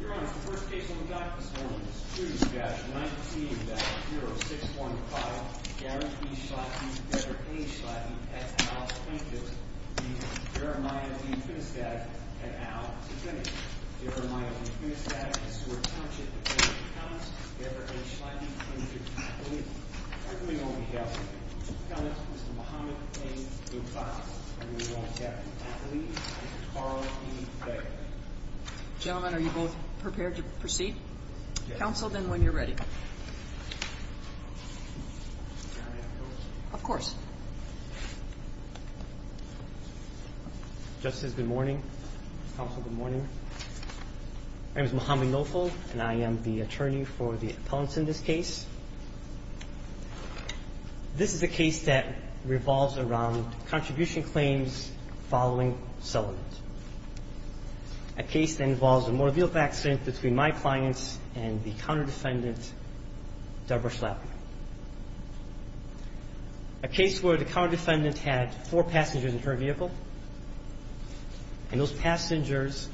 Your Honor, the first case on the docket this morning is 2-19-00645 Garrett B. Schlappi v. A. Schlappi, S. Al. plaintiff, v. Jeremiah v. Finnestad, N. Al. defendant. Your Honor, Jeremiah v. Finnestad, S. Al. plaintiff, v. A. Schlappi, N. Al. defendant. Your Honor, the defendant, M. B. Ghassan, S. Al. plaintiff, v. Jeremiah v. Finnestad, N. Al. defendant. Gentlemen, are you both prepared to proceed? Counsel, then when you're ready. May I have the court's order? Of course. Justice, good morning. Counsel, good morning. My name is Muhammad Nofl, and I am the attorney for the appellants in this case. This is a case that revolves around contribution claims following settlement. A case that involves a motor vehicle accident between my clients and the counter-defendant, Deborah Schlappi. A case where the counter-defendant had four passengers in her vehicle, and those passengers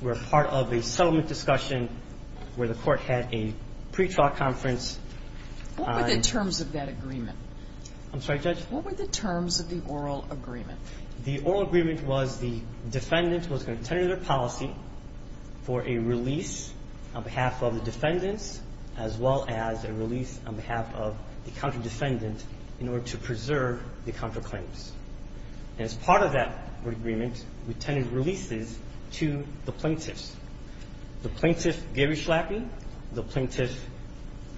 were part of a settlement discussion where the court had a pretrial conference. What were the terms of that agreement? I'm sorry, Judge? What were the terms of the oral agreement? The oral agreement was the defendant was going to tender their policy for a release on behalf of the defendants, as well as a release on behalf of the counter-defendant in order to preserve the counterclaims. And as part of that agreement, we tendered releases to the plaintiffs, the plaintiff, Gary Schlappi, the plaintiff,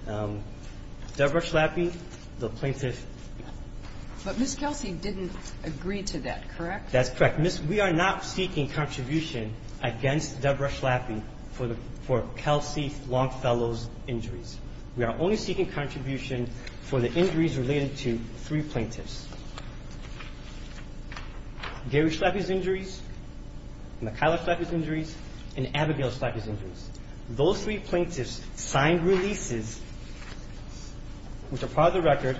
Deborah Schlappi, the plaintiff. But Ms. Kelsey didn't agree to that, correct? That's correct. Ms. We are not seeking contribution against Deborah Schlappi for Kelsey Longfellow's injuries. We are only seeking contribution for the injuries related to three plaintiffs. Gary Schlappi's injuries, Mikayla Schlappi's injuries, and Abigail Schlappi's injuries. Those three plaintiffs signed releases, which are part of the record,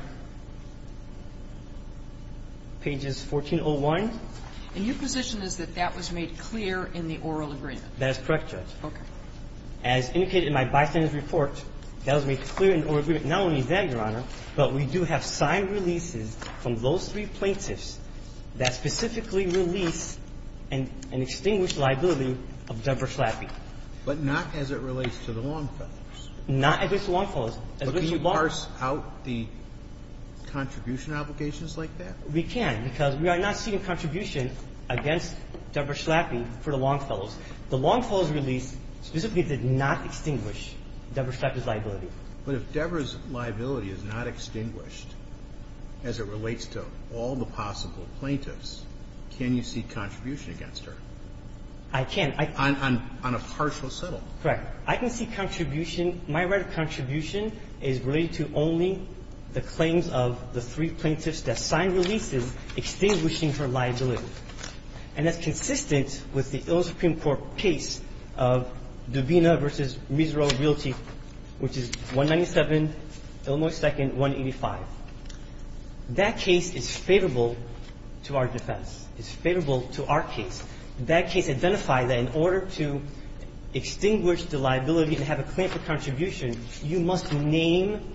pages 1401. And your position is that that was made clear in the oral agreement? That is correct, Judge. Okay. As indicated in my bystanders' report, that was made clear in the oral agreement not only then, Your Honor, but we do have signed releases from those three plaintiffs that specifically release an extinguished liability of Deborah Schlappi. But not as it relates to the Longfellows? Not as it relates to the Longfellows. But can you parse out the contribution obligations like that? We can, because we are not seeking contribution against Deborah Schlappi for the Longfellows. The Longfellows release specifically did not extinguish Deborah Schlappi's liability. But if Deborah's liability is not extinguished as it relates to all the possible plaintiffs, can you see contribution against her? I can. On a partial settlement? Correct. I can see contribution. My right of contribution is related to only the claims of the three plaintiffs that signed releases extinguishing her liability. And that's consistent with the illicit Supreme Court case of Dubina v. Miserable v. Realty, which is 197 Illinois 2nd, 185. That case is favorable to our defense. It's favorable to our case. That case identified that in order to extinguish the liability and have a claim for contribution, you must name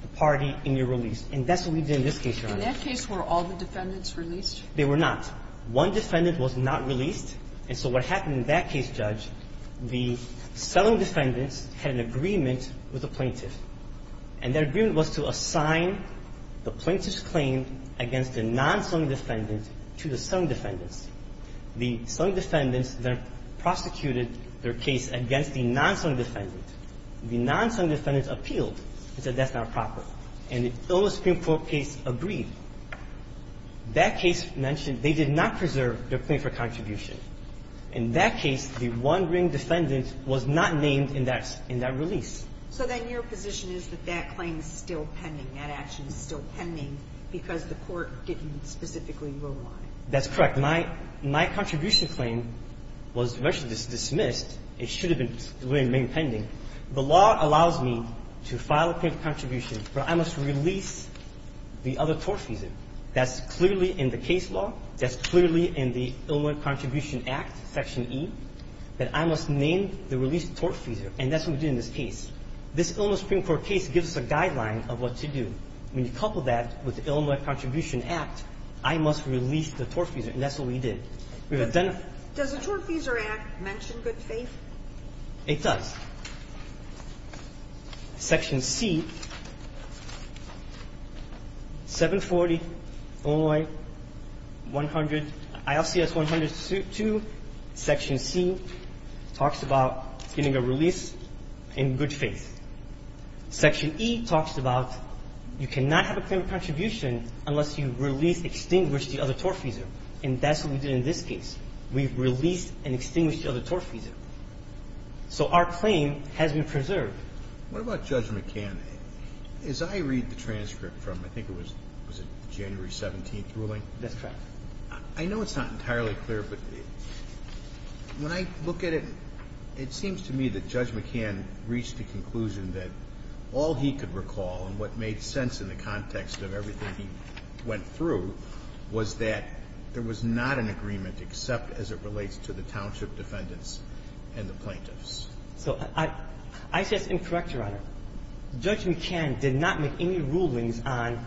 the party in your release. And that's what we did in this case, Your Honor. In that case, were all the defendants released? They were not. One defendant was not released. And so what happened in that case, Judge, the selling defendants had an agreement with the plaintiff. And their agreement was to assign the plaintiff's claim against the non-selling defendant to the selling defendants. The selling defendants then prosecuted their case against the non-selling defendant. The non-selling defendant appealed and said that's not proper. And the Illicit Supreme Court case agreed. That case mentioned they did not preserve their claim for contribution. In that case, the one-ring defendant was not named in that release. So then your position is that that claim is still pending, that action is still pending because the court didn't specifically rule on it. That's correct. My contribution claim was virtually dismissed. It should have been remaining pending. The law allows me to file a claim for contribution, but I must release the other tortfeasor. That's clearly in the case law. That's clearly in the Illicit Contribution Act, Section E, that I must name the released tortfeasor. And that's what we did in this case. This Illicit Supreme Court case gives us a guideline of what to do. When you couple that with the Illicit Contribution Act, I must release the tortfeasor, and that's what we did. We've identified- Does the Tortfeasor Act mention good faith? It does. Section C, 740, Illinois, 100, ILCS-100-2, Section C, talks about getting a release in good faith. Section E talks about you cannot have a claim of contribution unless you release or extinguish the other tortfeasor, and that's what we did in this case. We've released and extinguished the other tortfeasor. So our claim has been preserved. What about Judge McCann? As I read the transcript from, I think it was January 17th ruling- That's correct. I know it's not entirely clear, but when I look at it, it seems to me that Judge McCann reached the conclusion that all he could recall and what made sense in the context of everything he went through was that there was not an agreement, except as it relates to the township defendants and the plaintiffs. So I suggest I'm correct, Your Honor. Judge McCann did not make any rulings on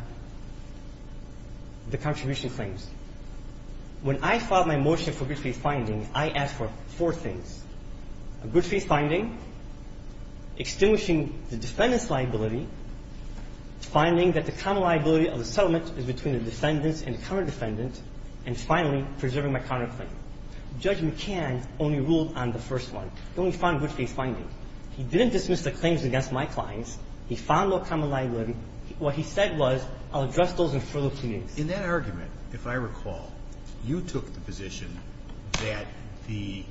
the contribution claims. When I filed my motion for good faith finding, I asked for four things, a good faith finding, extinguishing the defendant's liability, finding that the common liability of the settlement is between the defendants and the counter-defendant, and finally, preserving my counterclaim. Judge McCann only ruled on the first one, the only fine of good faith finding. He didn't dismiss the claims against my clients. He found no common liability. What he said was, I'll address those in further pleas. In that argument, if I recall, you took the position that the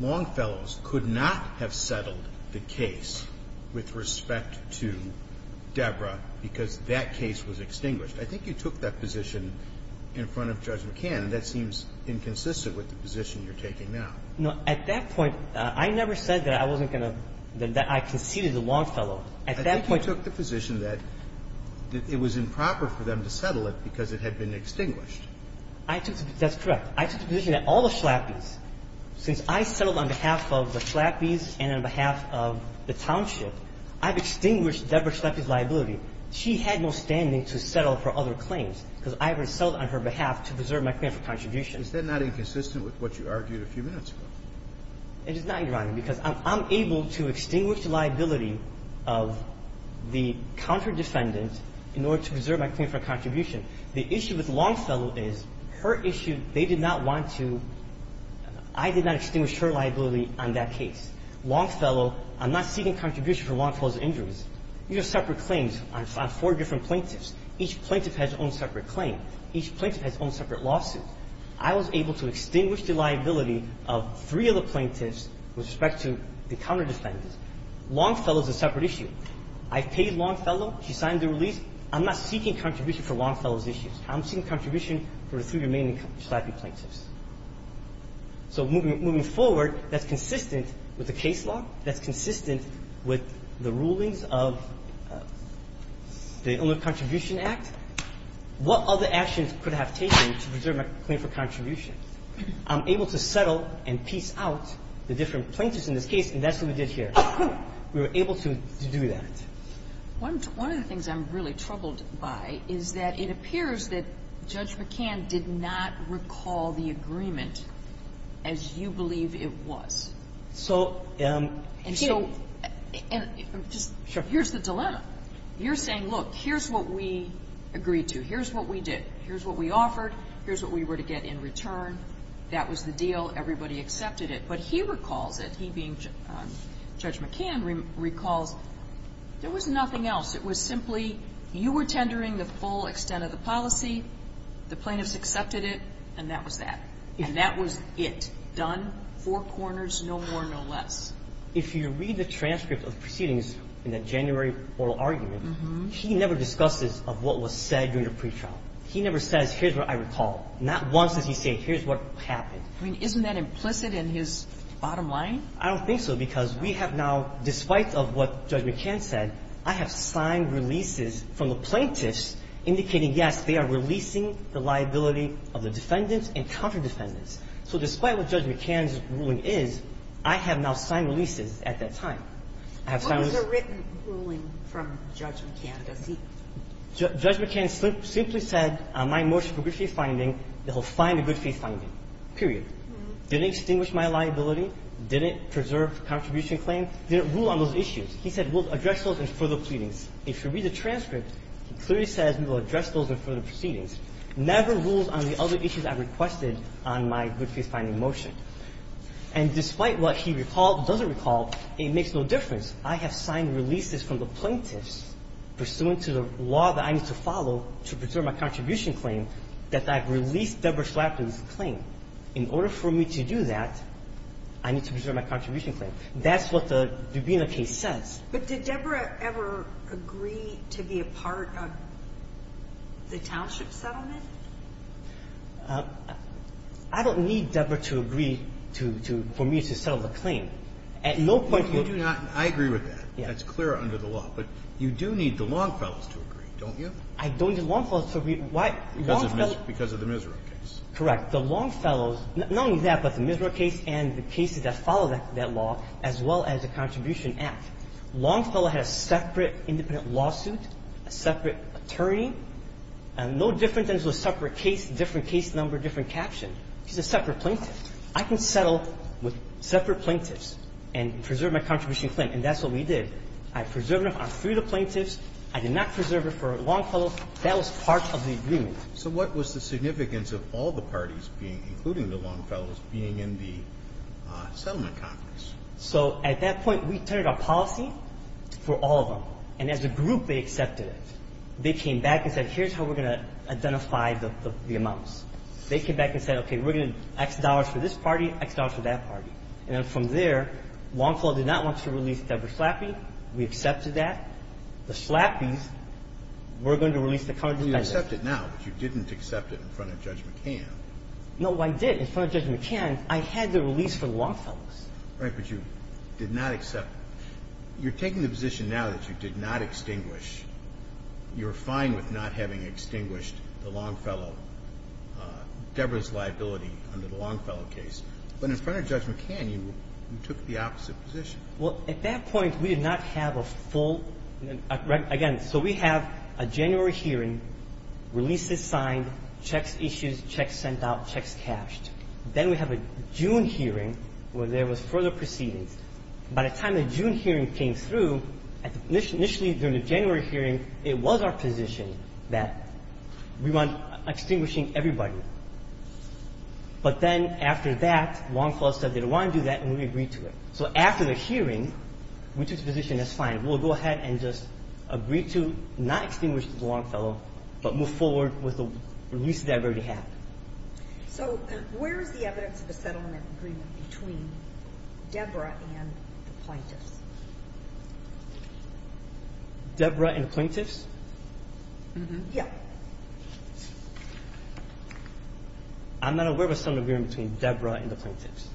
Longfellows could not have settled the case with respect to Deborah because that case was extinguished. I think you took that position in front of Judge McCann, and that seems inconsistent with the position you're taking now. No. At that point, I never said that I wasn't going to – that I conceded the Longfellow. At that point you took the position that it was improper for them to settle it because it had been extinguished. I took – that's correct. I took the position that all the Schlappys, since I settled on behalf of the Schlappys and on behalf of the township, I've extinguished Deborah Schlappy's liability. She had no standing to settle her other claims because I already settled on her behalf to preserve my claim for contribution. Is that not inconsistent with what you argued a few minutes ago? It is not, Your Honor, because I'm able to extinguish the liability of the counterdefendant in order to preserve my claim for contribution. The issue with Longfellow is her issue, they did not want to – I did not extinguish her liability on that case. Longfellow – I'm not seeking contribution for Longfellow's injuries. These are separate claims on four different plaintiffs. Each plaintiff has their own separate claim. Each plaintiff has their own separate lawsuit. I was able to extinguish the liability of three of the plaintiffs with respect to the counterdefendant. Longfellow is a separate issue. I've paid Longfellow. She signed the release. I'm not seeking contribution for Longfellow's issues. I'm seeking contribution for the three remaining Schlappy plaintiffs. So moving forward, that's consistent with the case law. That's consistent with the rulings of the Ownership Contribution Act. What other actions could I have taken to preserve my claim for contribution? I'm able to settle and peace out the different plaintiffs in this case, and that's what we did here. We were able to do that. One of the things I'm really troubled by is that it appears that Judge McCann did not recall the agreement as you believe it was. So, um, here's the dilemma. You're saying, look, here's what we agreed to. Here's what we did. Here's what we offered. Here's what we were to get in return. That was the deal. Everybody accepted it. But he recalls it, he being Judge McCann, recalls there was nothing else. It was simply you were tendering the full extent of the policy. The plaintiffs accepted it, and that was that. And that was it, done, four corners, no more, no less. If you read the transcript of proceedings in the January oral argument, he never discusses of what was said during the pretrial. He never says, here's what I recall. Not once does he say, here's what happened. I mean, isn't that implicit in his bottom line? I don't think so, because we have now, despite of what Judge McCann said, I have signed releases from the plaintiffs indicating, yes, they are releasing the liability of the defendants and counter-defendants. So despite what Judge McCann's ruling is, I have now signed releases at that time. I have signed those. What was the written ruling from Judge McCann? Does he? Judge McCann simply said, on my motion for good faith finding, that he'll find a good faith finding, period. Didn't extinguish my liability, didn't preserve contribution claim, didn't rule on those issues. He said, we'll address those in further pleadings. If you read the transcript, he clearly says, we will address those in further proceedings, never rules on the other issues I requested on my good faith finding motion. And despite what he recalled, doesn't recall, it makes no difference. I have signed releases from the plaintiffs pursuant to the law that I need to follow to preserve my contribution claim that I've released Deborah Schlafly's claim. In order for me to do that, I need to preserve my contribution claim. That's what the Dubina case says. But did Deborah ever agree to be a part of the township settlement? I don't need Deborah to agree to for me to settle the claim. At no point do you do not. I agree with that. Yes. That's clear under the law. But you do need the Longfellows to agree, don't you? I don't need Longfellows to agree. Why? Longfellows. Because of the Miserra case. Correct. The Longfellows, not only that, but the Miserra case and the cases that follow that law, as well as the Contribution Act. Longfellow had a separate independent lawsuit, a separate attorney, and no different than to a separate case, different case number, different caption. He's a separate plaintiff. I can settle with separate plaintiffs and preserve my contribution claim, and that's what we did. I preserved it on three of the plaintiffs. I did not preserve it for Longfellows. That was part of the agreement. So what was the significance of all the parties being, including the Longfellows, being in the settlement conference? So at that point, we turned our policy for all of them. And as a group, they accepted it. They came back and said, here's how we're going to identify the amounts. They came back and said, OK, we're going to X dollars for this party, X dollars for that party. And then from there, Longfellow did not want to release Deborah Schlappi. We accepted that. The Schlappis were going to release the current defendant. You accept it now, but you didn't accept it in front of Judge McCann. No, I did. In front of Judge McCann, I had the release for the Longfellows. Right, but you did not accept it. You're taking the position now that you did not extinguish. You're fine with not having extinguished the Longfellow, Deborah's liability under the Longfellow case. But in front of Judge McCann, you took the opposite position. Well, at that point, we did not have a full, again, so we have a January hearing, releases signed, checks issued, checks sent out, checks cashed. Then we have a June hearing where there was further proceedings. By the time the June hearing came through, initially during the January hearing, it was our position that we want extinguishing everybody. But then after that, Longfellow said they don't want to do that, and we agreed to it. So after the hearing, we took the position that's fine. We'll go ahead and just agree to not extinguish the Longfellow, but move forward with the release that I've already had. So where is the evidence of a settlement agreement between Deborah and the plaintiffs? Deborah and the plaintiffs? Mm-hmm. Yeah. I'm not aware of a settlement agreement between Deborah and the plaintiffs.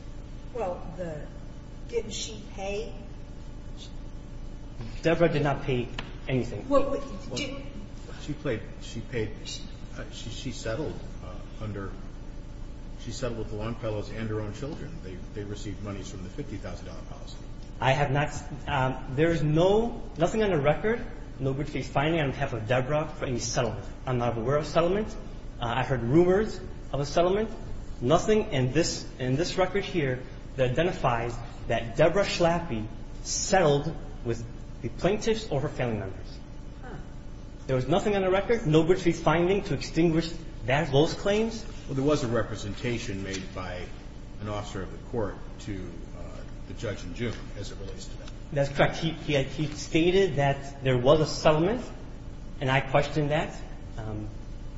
Well, didn't she pay? Deborah did not pay anything. Well, didn't she pay? She settled under, she settled with the Longfellows and her own children. They received monies from the $50,000 policy. I have not, there is no, nothing on the record, nobody's finding on behalf of Deborah for any settlement. I'm not aware of a settlement. I've heard rumors of a settlement. Nothing in this record here that identifies that Deborah Schlappi settled with the plaintiffs or her family members. There was nothing on the record, nobody's finding to extinguish those claims. Well, there was a representation made by an officer of the court to the judge in June as it relates to that. That's correct. He stated that there was a settlement, and I questioned that.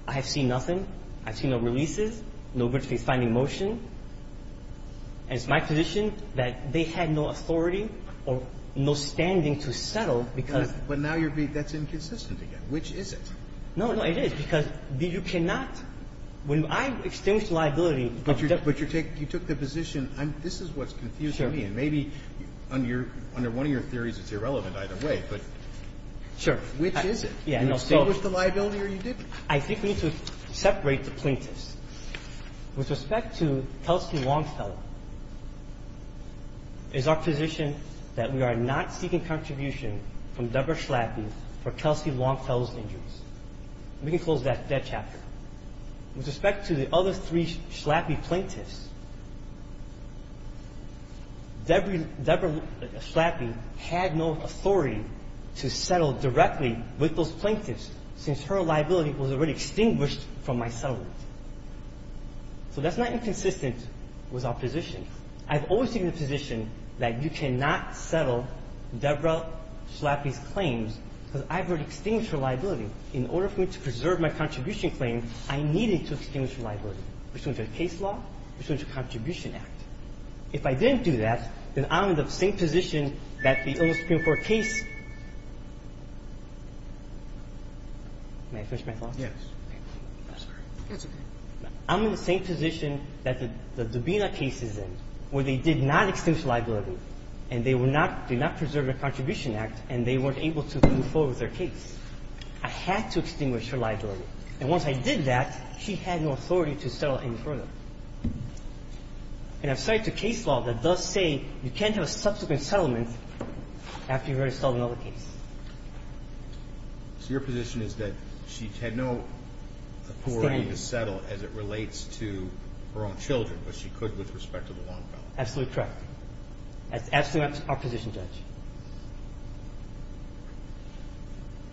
I have seen nothing. I've seen no releases. Nobody's finding motion. And it's my position that they had no authority or no standing to settle because. But now you're being, that's inconsistent again. Which is it? No, no, it is. Because you cannot, when I extinguished liability. But you took the position, this is what's confusing me. Maybe under one of your theories it's irrelevant either way. But which is it? You extinguished the liability or you didn't? I think we need to separate the plaintiffs. With respect to Kelsey Longfellow, it's our position that we are not seeking contribution from Deborah Schlappi for Kelsey Longfellow's injuries. We can close that chapter. With respect to the other three Schlappi plaintiffs, Deborah Schlappi had no authority to settle directly with those plaintiffs since her liability was already extinguished from my settlement. So that's not inconsistent with our position. I've always taken the position that you cannot settle Deborah Schlappi's claims because I've already extinguished her liability. In order for me to preserve my contribution claim, I needed to extinguish her liability. Which was a case law, which was a contribution act. If I didn't do that, then I'm in the same position that the oldest Supreme Court case. May I finish my thoughts? Yes. I'm sorry. That's okay. I'm in the same position that the Dubina case is in, where they did not extinguish her liability, and they were not do not preserve their contribution act, and they weren't able to move forward with their case. I had to extinguish her liability. And once I did that, she had no authority to settle any further. And I've cited a case law that does say you can't have a subsequent settlement after you've already solved another case. So your position is that she had no authority to settle as it relates to her own children, but she could with respect to the Longfellow? Absolutely correct. That's absolutely our position, Judge.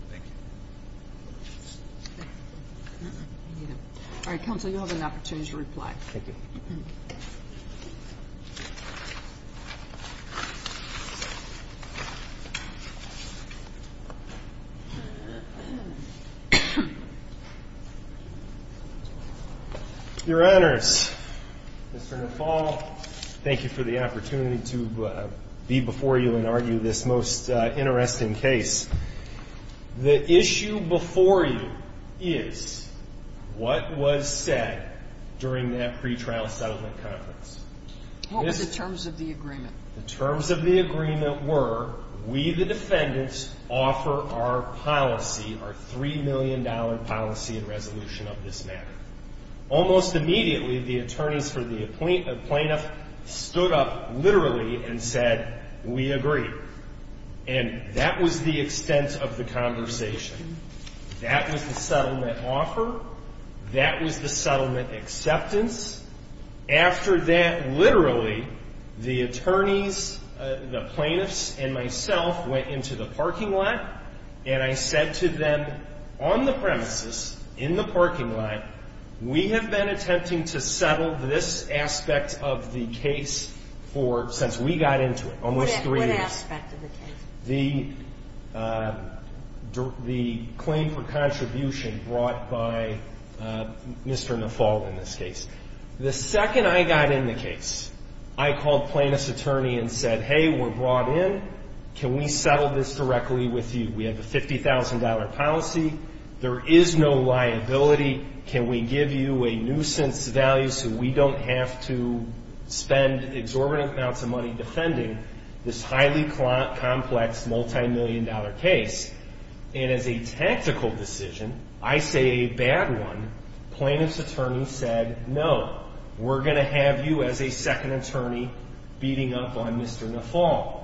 Thank you. All right, counsel, you'll have an opportunity to reply. Thank you. Your Honors, Mr. Nafal, thank you for the opportunity to be before you and argue this most interesting case. The issue before you is what was said during that pretrial settlement conference. What were the terms of the agreement? The terms of the agreement were, we, the defendants, offer our policy, our $3 million policy and resolution of this matter. Almost immediately, the attorneys for the plaintiff stood up literally and said, we agree. And that was the extent of the conversation. That was the settlement offer. That was the settlement acceptance. After that, literally, the attorneys, the plaintiffs, and myself went into the parking lot. And I said to them, on the premises, in the parking lot, we have been attempting to settle this aspect of the case for, since we got into it, almost three years. What aspect of the case? The claim for contribution brought by Mr. Nafal in this case. The second I got in the case, I called plaintiff's attorney and said, hey, we're brought in. Can we settle this directly with you? We have a $50,000 policy. There is no liability. Can we give you a nuisance value so we don't have to spend exorbitant amounts of money defending this highly complex, multimillion-dollar case? And as a tactical decision, I say a bad one, plaintiff's attorney said, no. We're going to have you as a second attorney beating up on Mr. Nafal.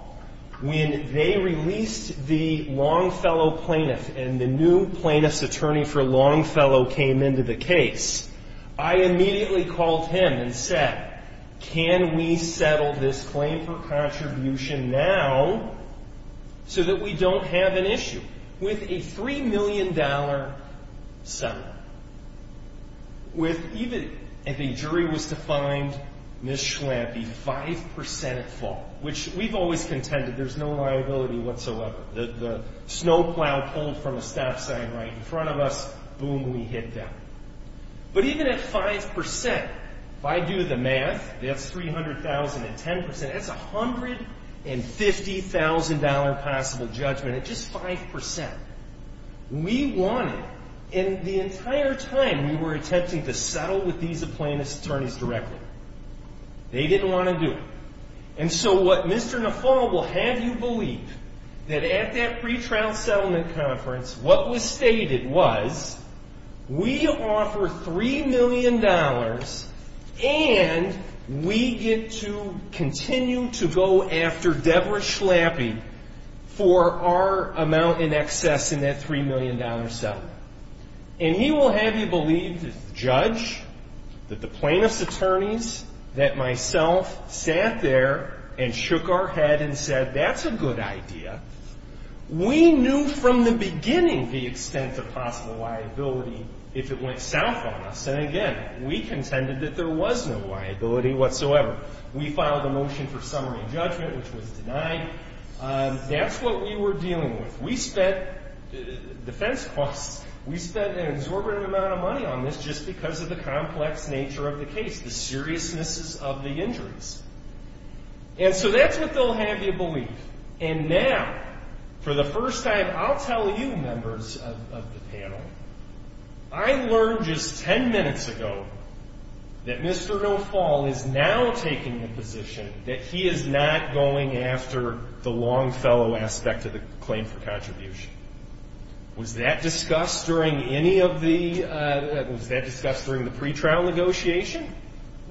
When they released the Longfellow plaintiff and the new plaintiff's attorney for Longfellow came into the case, I immediately called him and said, can we settle this claim for contribution now so that we don't have an issue? With a $3 million settlement, even if a jury was to find Ms. Schwampe 5% at fault, which we've always contended there's no liability whatsoever. The snowplow pulled from a stop sign right in front of us, boom, we hit that. But even at 5%, if I do the math, that's $300,000 at 10%, that's $150,000 possible judgment at just 5%. We won it. And the entire time, we were attempting to settle with these plaintiff's attorneys directly. They didn't want to do it. And so what Mr. Nafal will have you believe, that at that pretrial settlement conference, what was stated was, we offer $3 million, and we get to continue to go after Deborah Schlappi for our amount in excess in that $3 million settlement. And he will have you believe, Judge, that the plaintiff's attorneys, that myself, sat there and shook our head and said, that's a good idea. We knew from the beginning the extent of possible liability if it went south on us. And again, we contended that there was no liability whatsoever. We filed a motion for summary judgment, which was denied. That's what we were dealing with. We spent defense costs. We spent an exorbitant amount of money on this just because of the complex nature of the case, the seriousness of the injuries. And so that's what they'll have you believe. And now, for the first time, I'll tell you, members of the panel, I learned just 10 minutes ago that Mr. Nafal is now taking the position that he is not going after the Longfellow aspect of the claim for contribution. Was that discussed during the pretrial negotiation?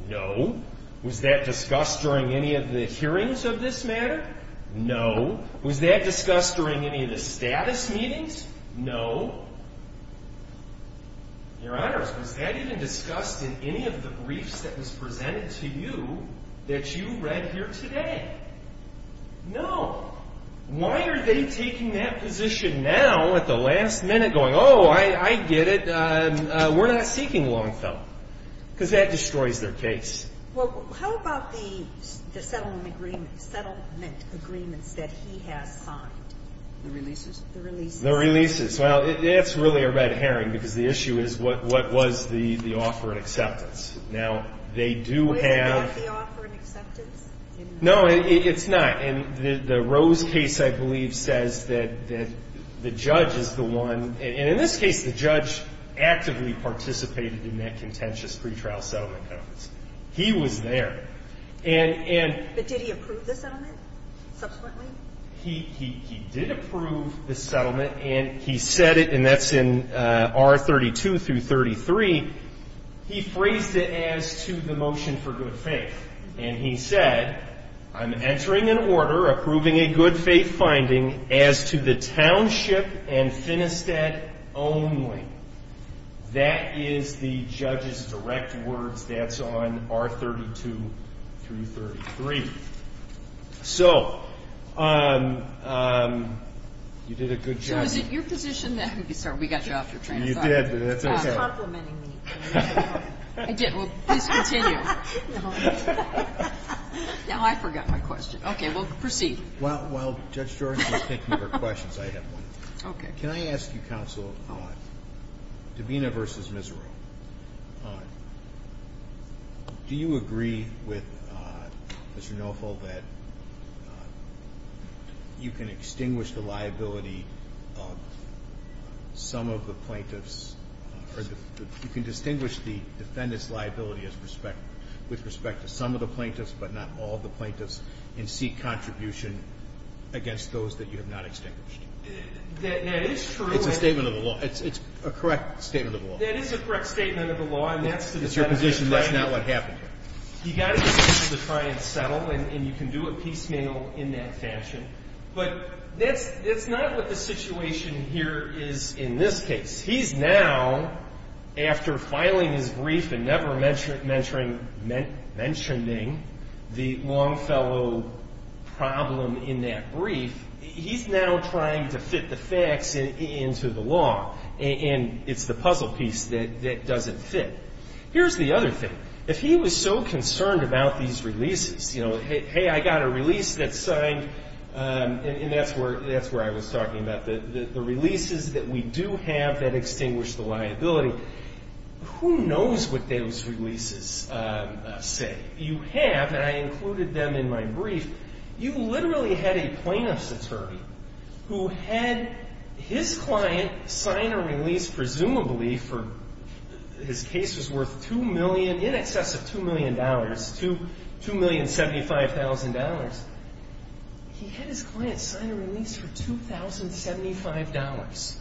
No. Was that discussed during any of the hearings of this matter? No. Was that discussed during any of the status meetings? No. Your honors, was that even discussed in any of the briefs that was presented to you that you read here today? No. Why are they taking that position now at the last minute going, oh, I get it. We're not seeking Longfellow? Because that destroys their case. Well, how about the settlement agreements that he has signed? The releases? The releases. The releases. Well, that's really a red herring because the issue is, what was the offer and acceptance? Now, they do have the offer and acceptance? No, it's not. And the Rose case, I believe, says that the judge is the one. And in this case, the judge actively participated in that contentious pretrial settlement notice. He was there. But did he approve the settlement subsequently? He did approve the settlement. And he said it. And that's in R32 through 33. He phrased it as to the motion for good faith. And he said, I'm entering an order approving a good faith finding as to the township and Finistead only. That is the judge's direct words. That's on R32 through 33. So you did a good job. So is it your position that we got you off your train of thought? You did, but that's OK. I was complimenting you. I didn't. Well, please continue. Now, I forgot my question. OK, well, proceed. Well, while Judge Jordan is thinking of her questions, I have one. Can I ask you, counsel, Dabena versus Miserow, do you agree with Mr. Knowful that you can extinguish the liability of some of the plaintiffs, or you can distinguish the defendant's liability with respect to some of the plaintiffs, but not all of the plaintiffs, and seek contribution against those that you have not extinguished? That is true. It's a statement of the law. It's a correct statement of the law. That is a correct statement of the law, and that's the defendant's position. It's your position. That's not what happened here. You got a position to try and settle, and you can do it piecemeal in that fashion. But that's not what the situation here is in this case. He's now, after filing his brief and never mentioning the Longfellow problem in that brief, he's now trying to fit the facts into the law, and it's the puzzle piece that doesn't fit. Here's the other thing. If he was so concerned about these releases, you know, hey, I got a release that's signed, and that's where I was talking about, the releases that we do have that extinguish the liability, who knows what those releases say? You have, and I included them in my brief, you literally had a plaintiff's attorney who had his client sign a release, presumably, for his case was worth $2 million, in excess of $2 million, $2,075,000. He had his client sign a release for $2,075.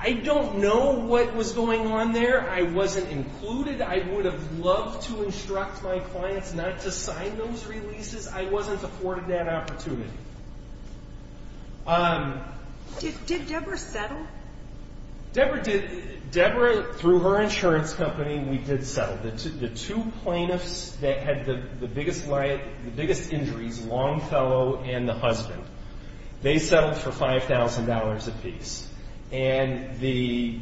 I don't know what was going on there. I wasn't included. I would have loved to instruct my clients not to sign those releases. I wasn't afforded that opportunity. Did Deborah settle? Deborah did. Deborah, through her insurance company, we did settle. The two plaintiffs that had the biggest injuries, Longfellow and the husband, they settled for $5,000 apiece. And the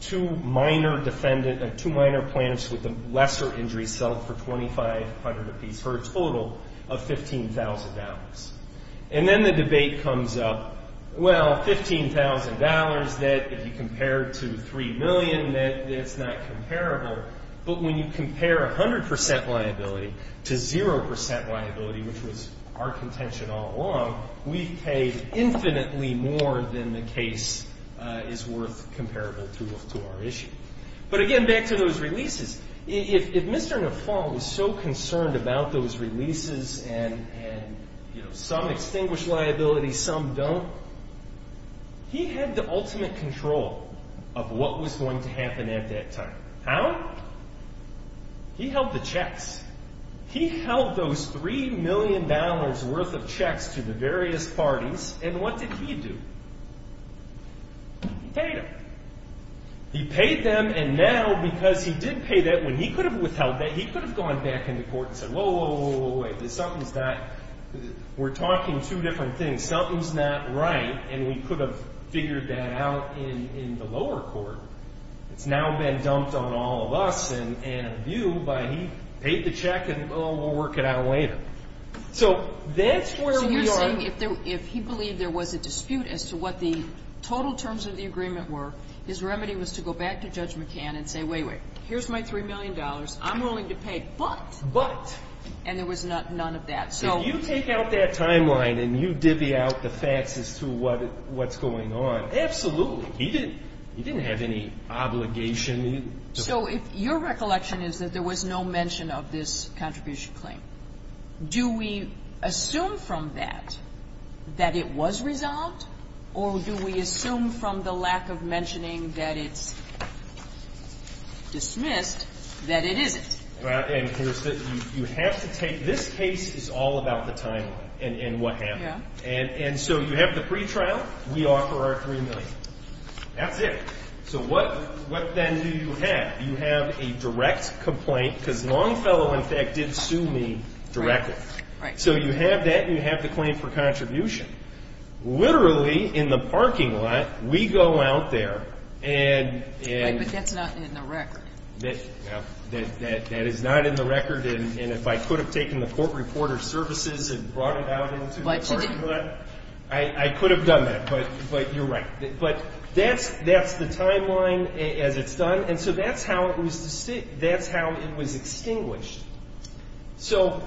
two minor plaintiffs with the lesser injuries settled for $2,500 apiece for a total of $15,000. And then the debate comes up, well, $15,000, that if you compare it to $3 million, that it's not comparable. But when you compare 100% liability to 0% liability, which was our contention all along, we paid infinitely more than the case is worth comparable to our issue. But again, back to those releases. If Mr. Nafalt was so concerned about those releases and some extinguish liability, some don't, he had the ultimate control of what was going to happen at that time. How? He held the checks. He held those $3 million worth of checks to the various parties. And what did he do? He paid them. He paid them. And now, because he did pay that, when he could have withheld that, he could have gone back in the court and said, whoa, whoa, whoa, wait. We're talking two different things. Something's not right. And we could have figured that out in the lower court. It's now been dumped on all of us and you. But he paid the check and, oh, we'll work it out later. So that's where we are. So you're saying if he believed there was a dispute as to what the total terms of the agreement were, his remedy was to go back to Judge McCann and say, wait, wait. Here's my $3 million. I'm willing to pay. But. But. And there was none of that. So if you take out that timeline and you divvy out the facts as to what's going on, absolutely. He didn't have any obligation. So your recollection is that there was no mention of this contribution claim. Do we assume from that that it was resolved? Or do we assume from the lack of mentioning that it's dismissed that it isn't? And here's the thing. This case is all about the timeline and what happened. And so you have the pretrial. We offer our $3 million. That's it. So what then do you have? You have a direct complaint, because Longfellow, in fact, did sue me directly. So you have that. You have the claim for contribution. Literally, in the parking lot, we go out there and. But that's not in the record. That is not in the record. And if I could have taken the court reporter services and brought it out into the parking lot, I could have done that. But you're right. But that's the timeline as it's done. And so that's how it was extinguished. So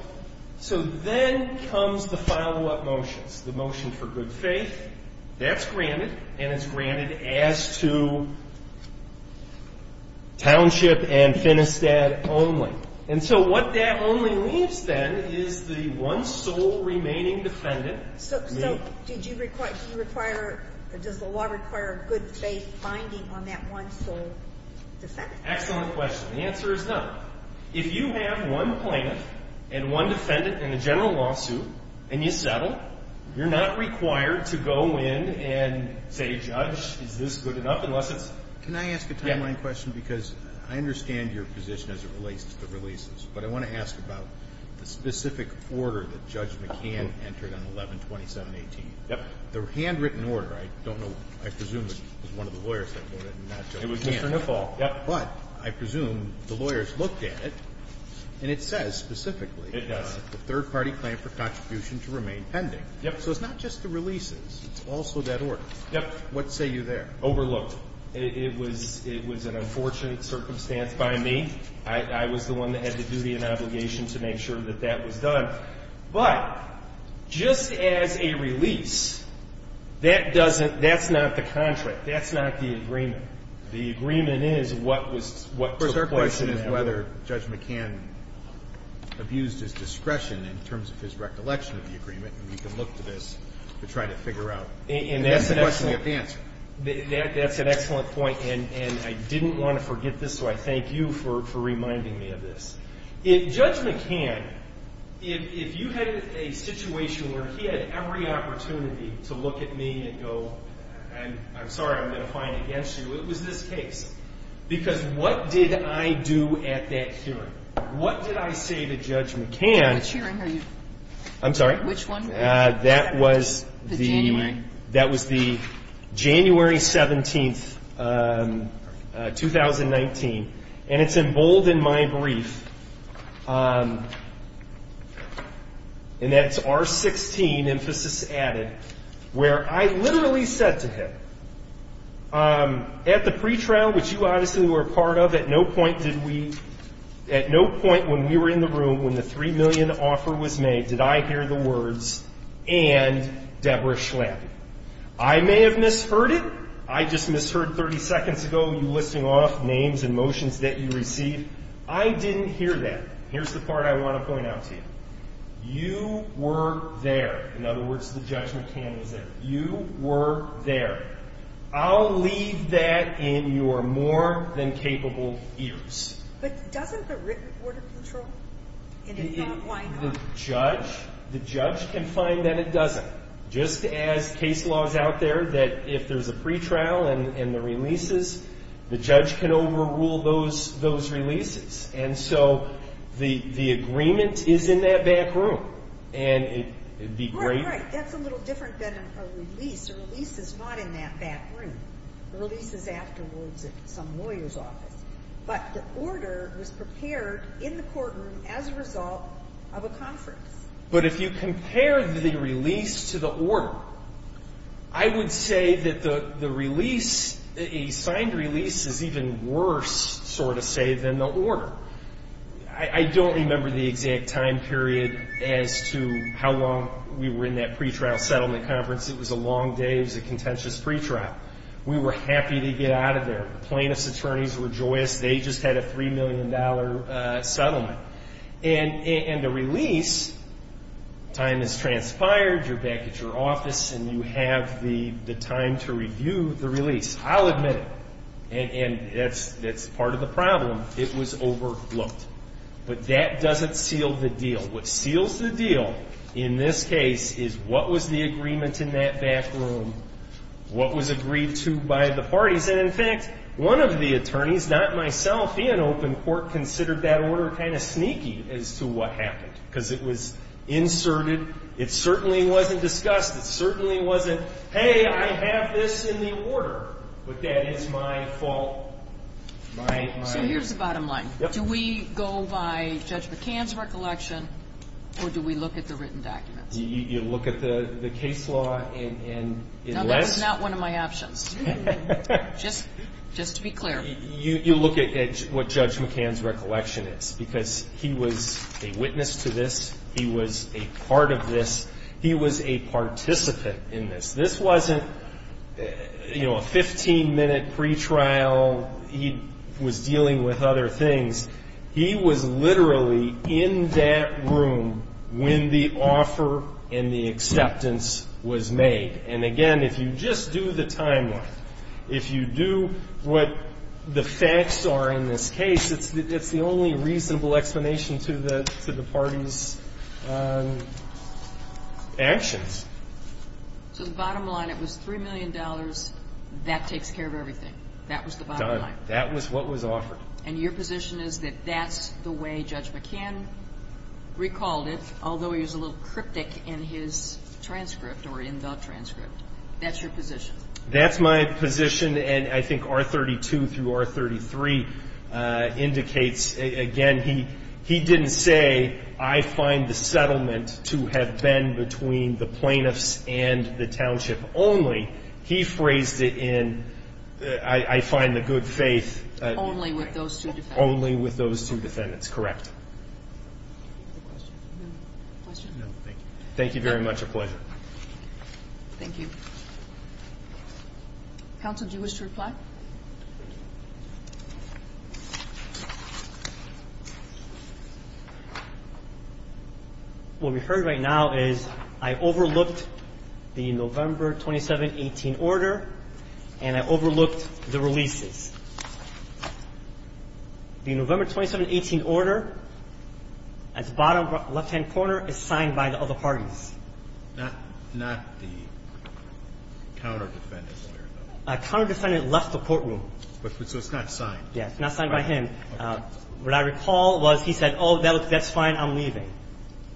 then comes the follow-up motions, the motion for good faith. That's granted. And it's granted as to Township and Finistad only. And so what that only leaves, then, is the one sole remaining defendant. So does the law require a good faith binding on that one sole defendant? Excellent question. The answer is no. If you have one plaintiff and one defendant in a general lawsuit, and you settle, you're not required to go in and say, judge, is this good enough, unless it's. Can I ask a timeline question? Because I understand your position as it relates to the releases. But I want to ask about the specific order that Judge McCann entered on 11-27-18. The handwritten order, I don't know, I presume it was one of the lawyers that wrote it, and not Judge Nipaul. It was Mr. Nipaul, yep. But I presume the lawyers looked at it. And it says, specifically, the third party claim for contribution to remain pending. So it's not just the releases. It's also that order. What say you there? Overlooked. It was an unfortunate circumstance by me. I was the one that had the duty and obligation to make sure that that was done. But just as a release, that's not the contract. That's not the agreement. The agreement is what took place in that order. The question is whether Judge McCann abused his discretion in terms of his recollection of the agreement. And we can look to this to try to figure out the question you have to answer. That's an excellent point. And I didn't want to forget this, so I thank you for reminding me of this. Judge McCann, if you had a situation where he had every opportunity to look at me and go, I'm sorry, I'm going to find it against you, it was this case. Because what did I do at that hearing? What did I say to Judge McCann? Which hearing are you? I'm sorry? Which one were you? That was the January 17th, 2019. And it's emboldened my brief, and that's R16, emphasis added, where I literally said to him, at the pretrial, which you obviously were a part of, at no point did we, at no point when we were in the room, when the $3 million offer was made, did I hear the words, and Deborah Schlappi. I may have misheard it. I just misheard 30 seconds ago you listing off names and motions that you received. I didn't hear that. Here's the part I want to point out to you. You were there. In other words, the Judge McCann was there. You were there. I'll leave that in your more than capable ears. But doesn't the written order control? And if not, why not? The judge can find that it doesn't. Just as case laws out there that if there's a pretrial and the releases, the judge can overrule those releases. And so the agreement is in that back room. And it'd be great. Right, right. That's a little different than a release. A release is not in that back room. A release is afterwards at some lawyer's office. But the order was prepared in the courtroom as a result of a conference. But if you compare the release to the order, I would say that the release, a signed release, is even worse, so to say, than the order. I don't remember the exact time period as to how long we were in that pretrial settlement conference. It was a long day. It was a contentious pretrial. We were happy to get out of there. Plaintiffs' attorneys rejoiced. They just had a $3 million settlement. And the release, time has transpired. You're back at your office. And you have the time to review the release. I'll admit it. And that's part of the problem. It was overlooked. But that doesn't seal the deal. What seals the deal in this case is what was the agreement in that back room, what was agreed to by the parties. And in fact, one of the attorneys, not myself in open court, considered that order kind of sneaky as to what happened. Because it was inserted. It certainly wasn't discussed. It certainly wasn't, hey, I have this in the order. But that is my fault. So here's the bottom line. Do we go by Judge McCann's recollection, or do we look at the written documents? You look at the case law and unless. Now, that's not one of my options, just to be clear. You look at what Judge McCann's recollection is. Because he was a witness to this. He was a part of this. He was a participant in this. This wasn't a 15-minute pretrial. He was dealing with other things. He was literally in that room when the offer and the acceptance was made. And again, if you just do the timeline, if you do what the facts are in this case, it's the only reasonable explanation to the parties' actions. So the bottom line, it was $3 million. That takes care of everything. That was the bottom line. That was what was offered. And your position is that that's the way Judge McCann recalled it, although he was a little cryptic in his transcript or in the transcript. That's your position. That's my position. And I think R32 through R33 indicates, again, he didn't say, I find the settlement to have been between the plaintiffs and the township only. He phrased it in, I find the good faith. Only with those two defendants. Only with those two defendants, correct. Thank you very much. Thank you. Counsel, do you wish to reply? No. What we heard right now is, I overlooked the November 27-18 order, and I overlooked the releases. The November 27-18 order, at the bottom left-hand corner, is signed by the other parties. Not the counter-defendant's order, though. A counter-defendant left the courtroom. So it's not signed. Yeah. It's not signed by him. What I recall was, he said, oh, that's fine. I'm leaving.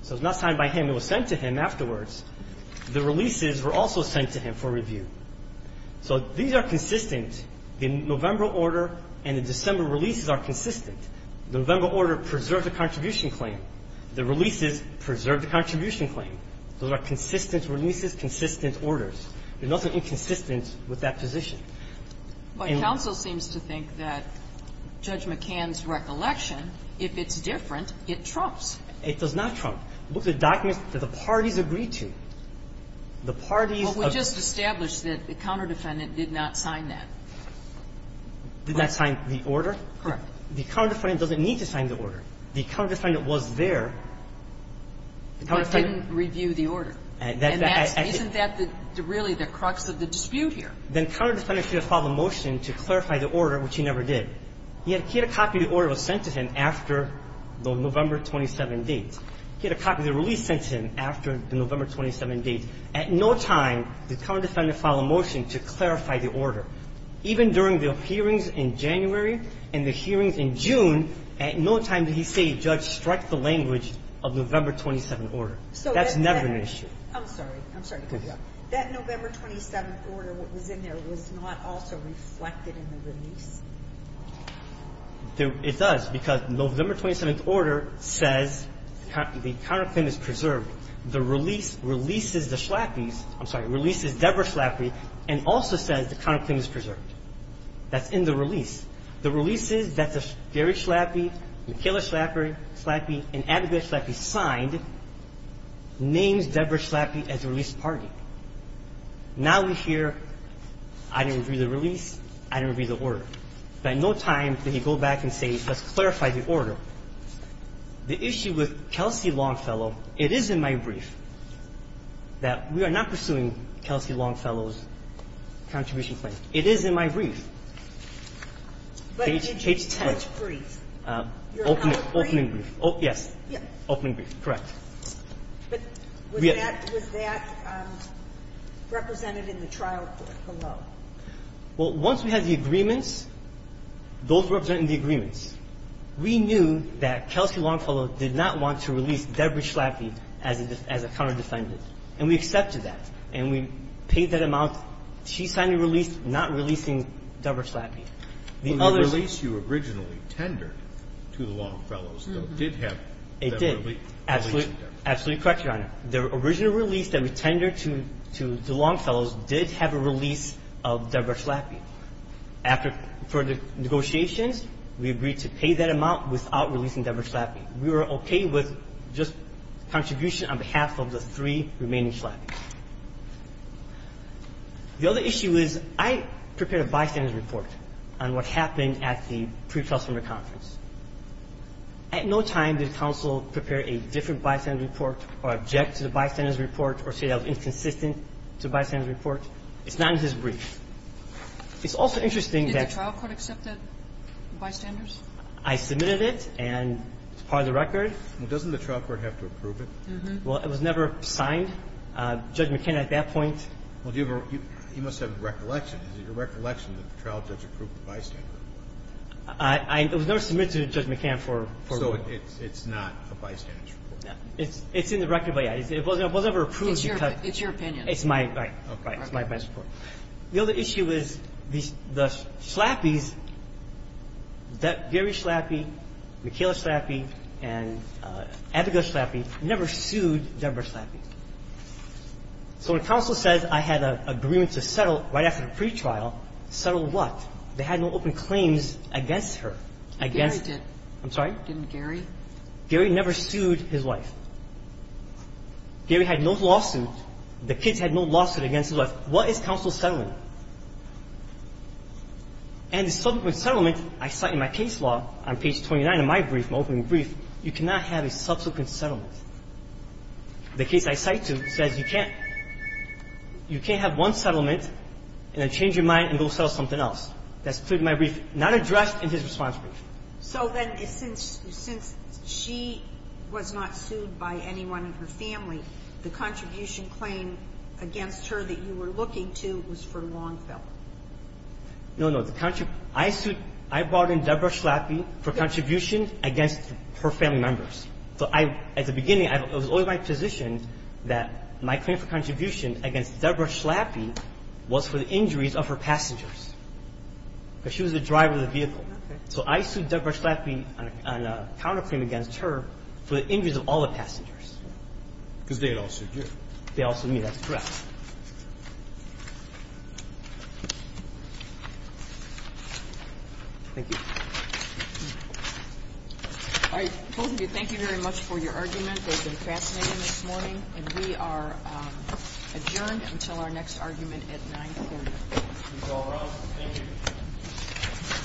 So it's not signed by him. It was sent to him afterwards. The releases were also sent to him for review. So these are consistent. The November order and the December releases are consistent. The November order preserves the contribution claim. The releases preserve the contribution claim. Those are consistent releases, consistent orders. There's nothing inconsistent with that position. My counsel seems to think that Judge McCann's recollection, if it's different, it trumps. It does not trump. Look at the documents that the parties agreed to. The parties of the parties of the parties agreed to. Well, we just established that the counter-defendant did not sign that. Did not sign the order? Correct. The counter-defendant doesn't need to sign the order. The counter-defendant was there. But didn't review the order. And isn't that really the crux of the dispute here? The counter-defendant should have filed a motion to clarify the order, which he never did. He had a copy of the order that was sent to him after the November 27 date. He had a copy of the release sent to him after the November 27 date. At no time did the counter-defendant file a motion to clarify the order. Even during the hearings in January and the hearings in June, at no time did he say, Judge, strike the language of the November 27 order. That's never been an issue. I'm sorry. I'm sorry to cut you off. That November 27 order, what was in there, was not also reflected in the release? It does, because the November 27 order says the counter-claim is preserved. The release releases the Schlappys, I'm sorry, releases Debra Schlappy, and also says the counter-claim is preserved. That's in the release. The releases that Gary Schlappy, Michaela Schlappy, and Abigail Schlappy signed names Debra Schlappy as the release party. Now we hear, I didn't review the release, I didn't review the order. At no time did he go back and say, let's clarify the order. The issue with Kelsey Longfellow, it is in my brief that we are not pursuing Kelsey Longfellow's contribution claim. It is in my brief. Page 10. Opening brief. Yes, opening brief, correct. But was that represented in the trial below? Well, once we had the agreements, those representing the agreements, we knew that Kelsey Longfellow did not want to release Debra Schlappy as a counter-defendant. And we accepted that. And we paid that amount. She signed a release not releasing Debra Schlappy. The other release you originally tendered to the Longfellows, though, did have a release of Debra Schlappy. Absolutely correct, Your Honor. The original release that we tendered to the Longfellows did have a release of Debra Schlappy. After further negotiations, we agreed to pay that amount without releasing Debra Schlappy. We were okay with just contribution on behalf of the three remaining Schlappys. The other issue is, I prepared a bystanders report on what happened at the pre-customer conference. At no time did counsel prepare a different bystanders report or object to the bystanders report or say that it was inconsistent to the bystanders report. It's not in his brief. It's also interesting that you Did the trial court accept that bystanders? I submitted it, and it's part of the record. Well, doesn't the trial court have to approve it? Well, it was never signed. Judge McKenna at that point Well, you must have recollection. Is it your recollection that the trial judge approved the bystanders? I was never submitted to Judge McKenna for review. So it's not a bystanders report? It's in the record, but, yeah, it was never approved because It's your opinion. It's my, right, it's my report. The other issue is the Schlappys, Gary Schlappy, Mikayla Schlappy, and Abigail Schlappy, never sued Debra Schlappy. So when counsel says I had an agreement to settle right after the pretrial, settle what? They had no open claims against her, against Gary did. I'm sorry? Didn't Gary? Gary never sued his wife. Gary had no lawsuit. The kids had no lawsuit against his wife. What is counsel settling? And the subsequent settlement, I cite in my case law on page 29 of my brief, my opening brief, you cannot have a subsequent settlement. The case I cite to says you can't. You can't have one settlement and then change your mind and go settle something else. That's clearly my brief, not addressed in his response brief. So then since she was not sued by anyone in her family, the contribution claim against her that you were looking to was for Longfell. No, no. The contribution ‑‑ I brought in Debra Schlappy for contribution against her family members. So I, at the beginning, it was always my position that my claim for contribution against Debra Schlappy was for the injuries of her passengers. Because she was the driver of the vehicle. So I sued Debra Schlappy on a counterclaim against her for the injuries of all the passengers. Because they had all sued you. They all sued me, that's correct. Thank you. All right, both of you, thank you very much for your argument. It was fascinating this morning. And we are adjourned until our next argument at 9.40. If it's all right, thank you.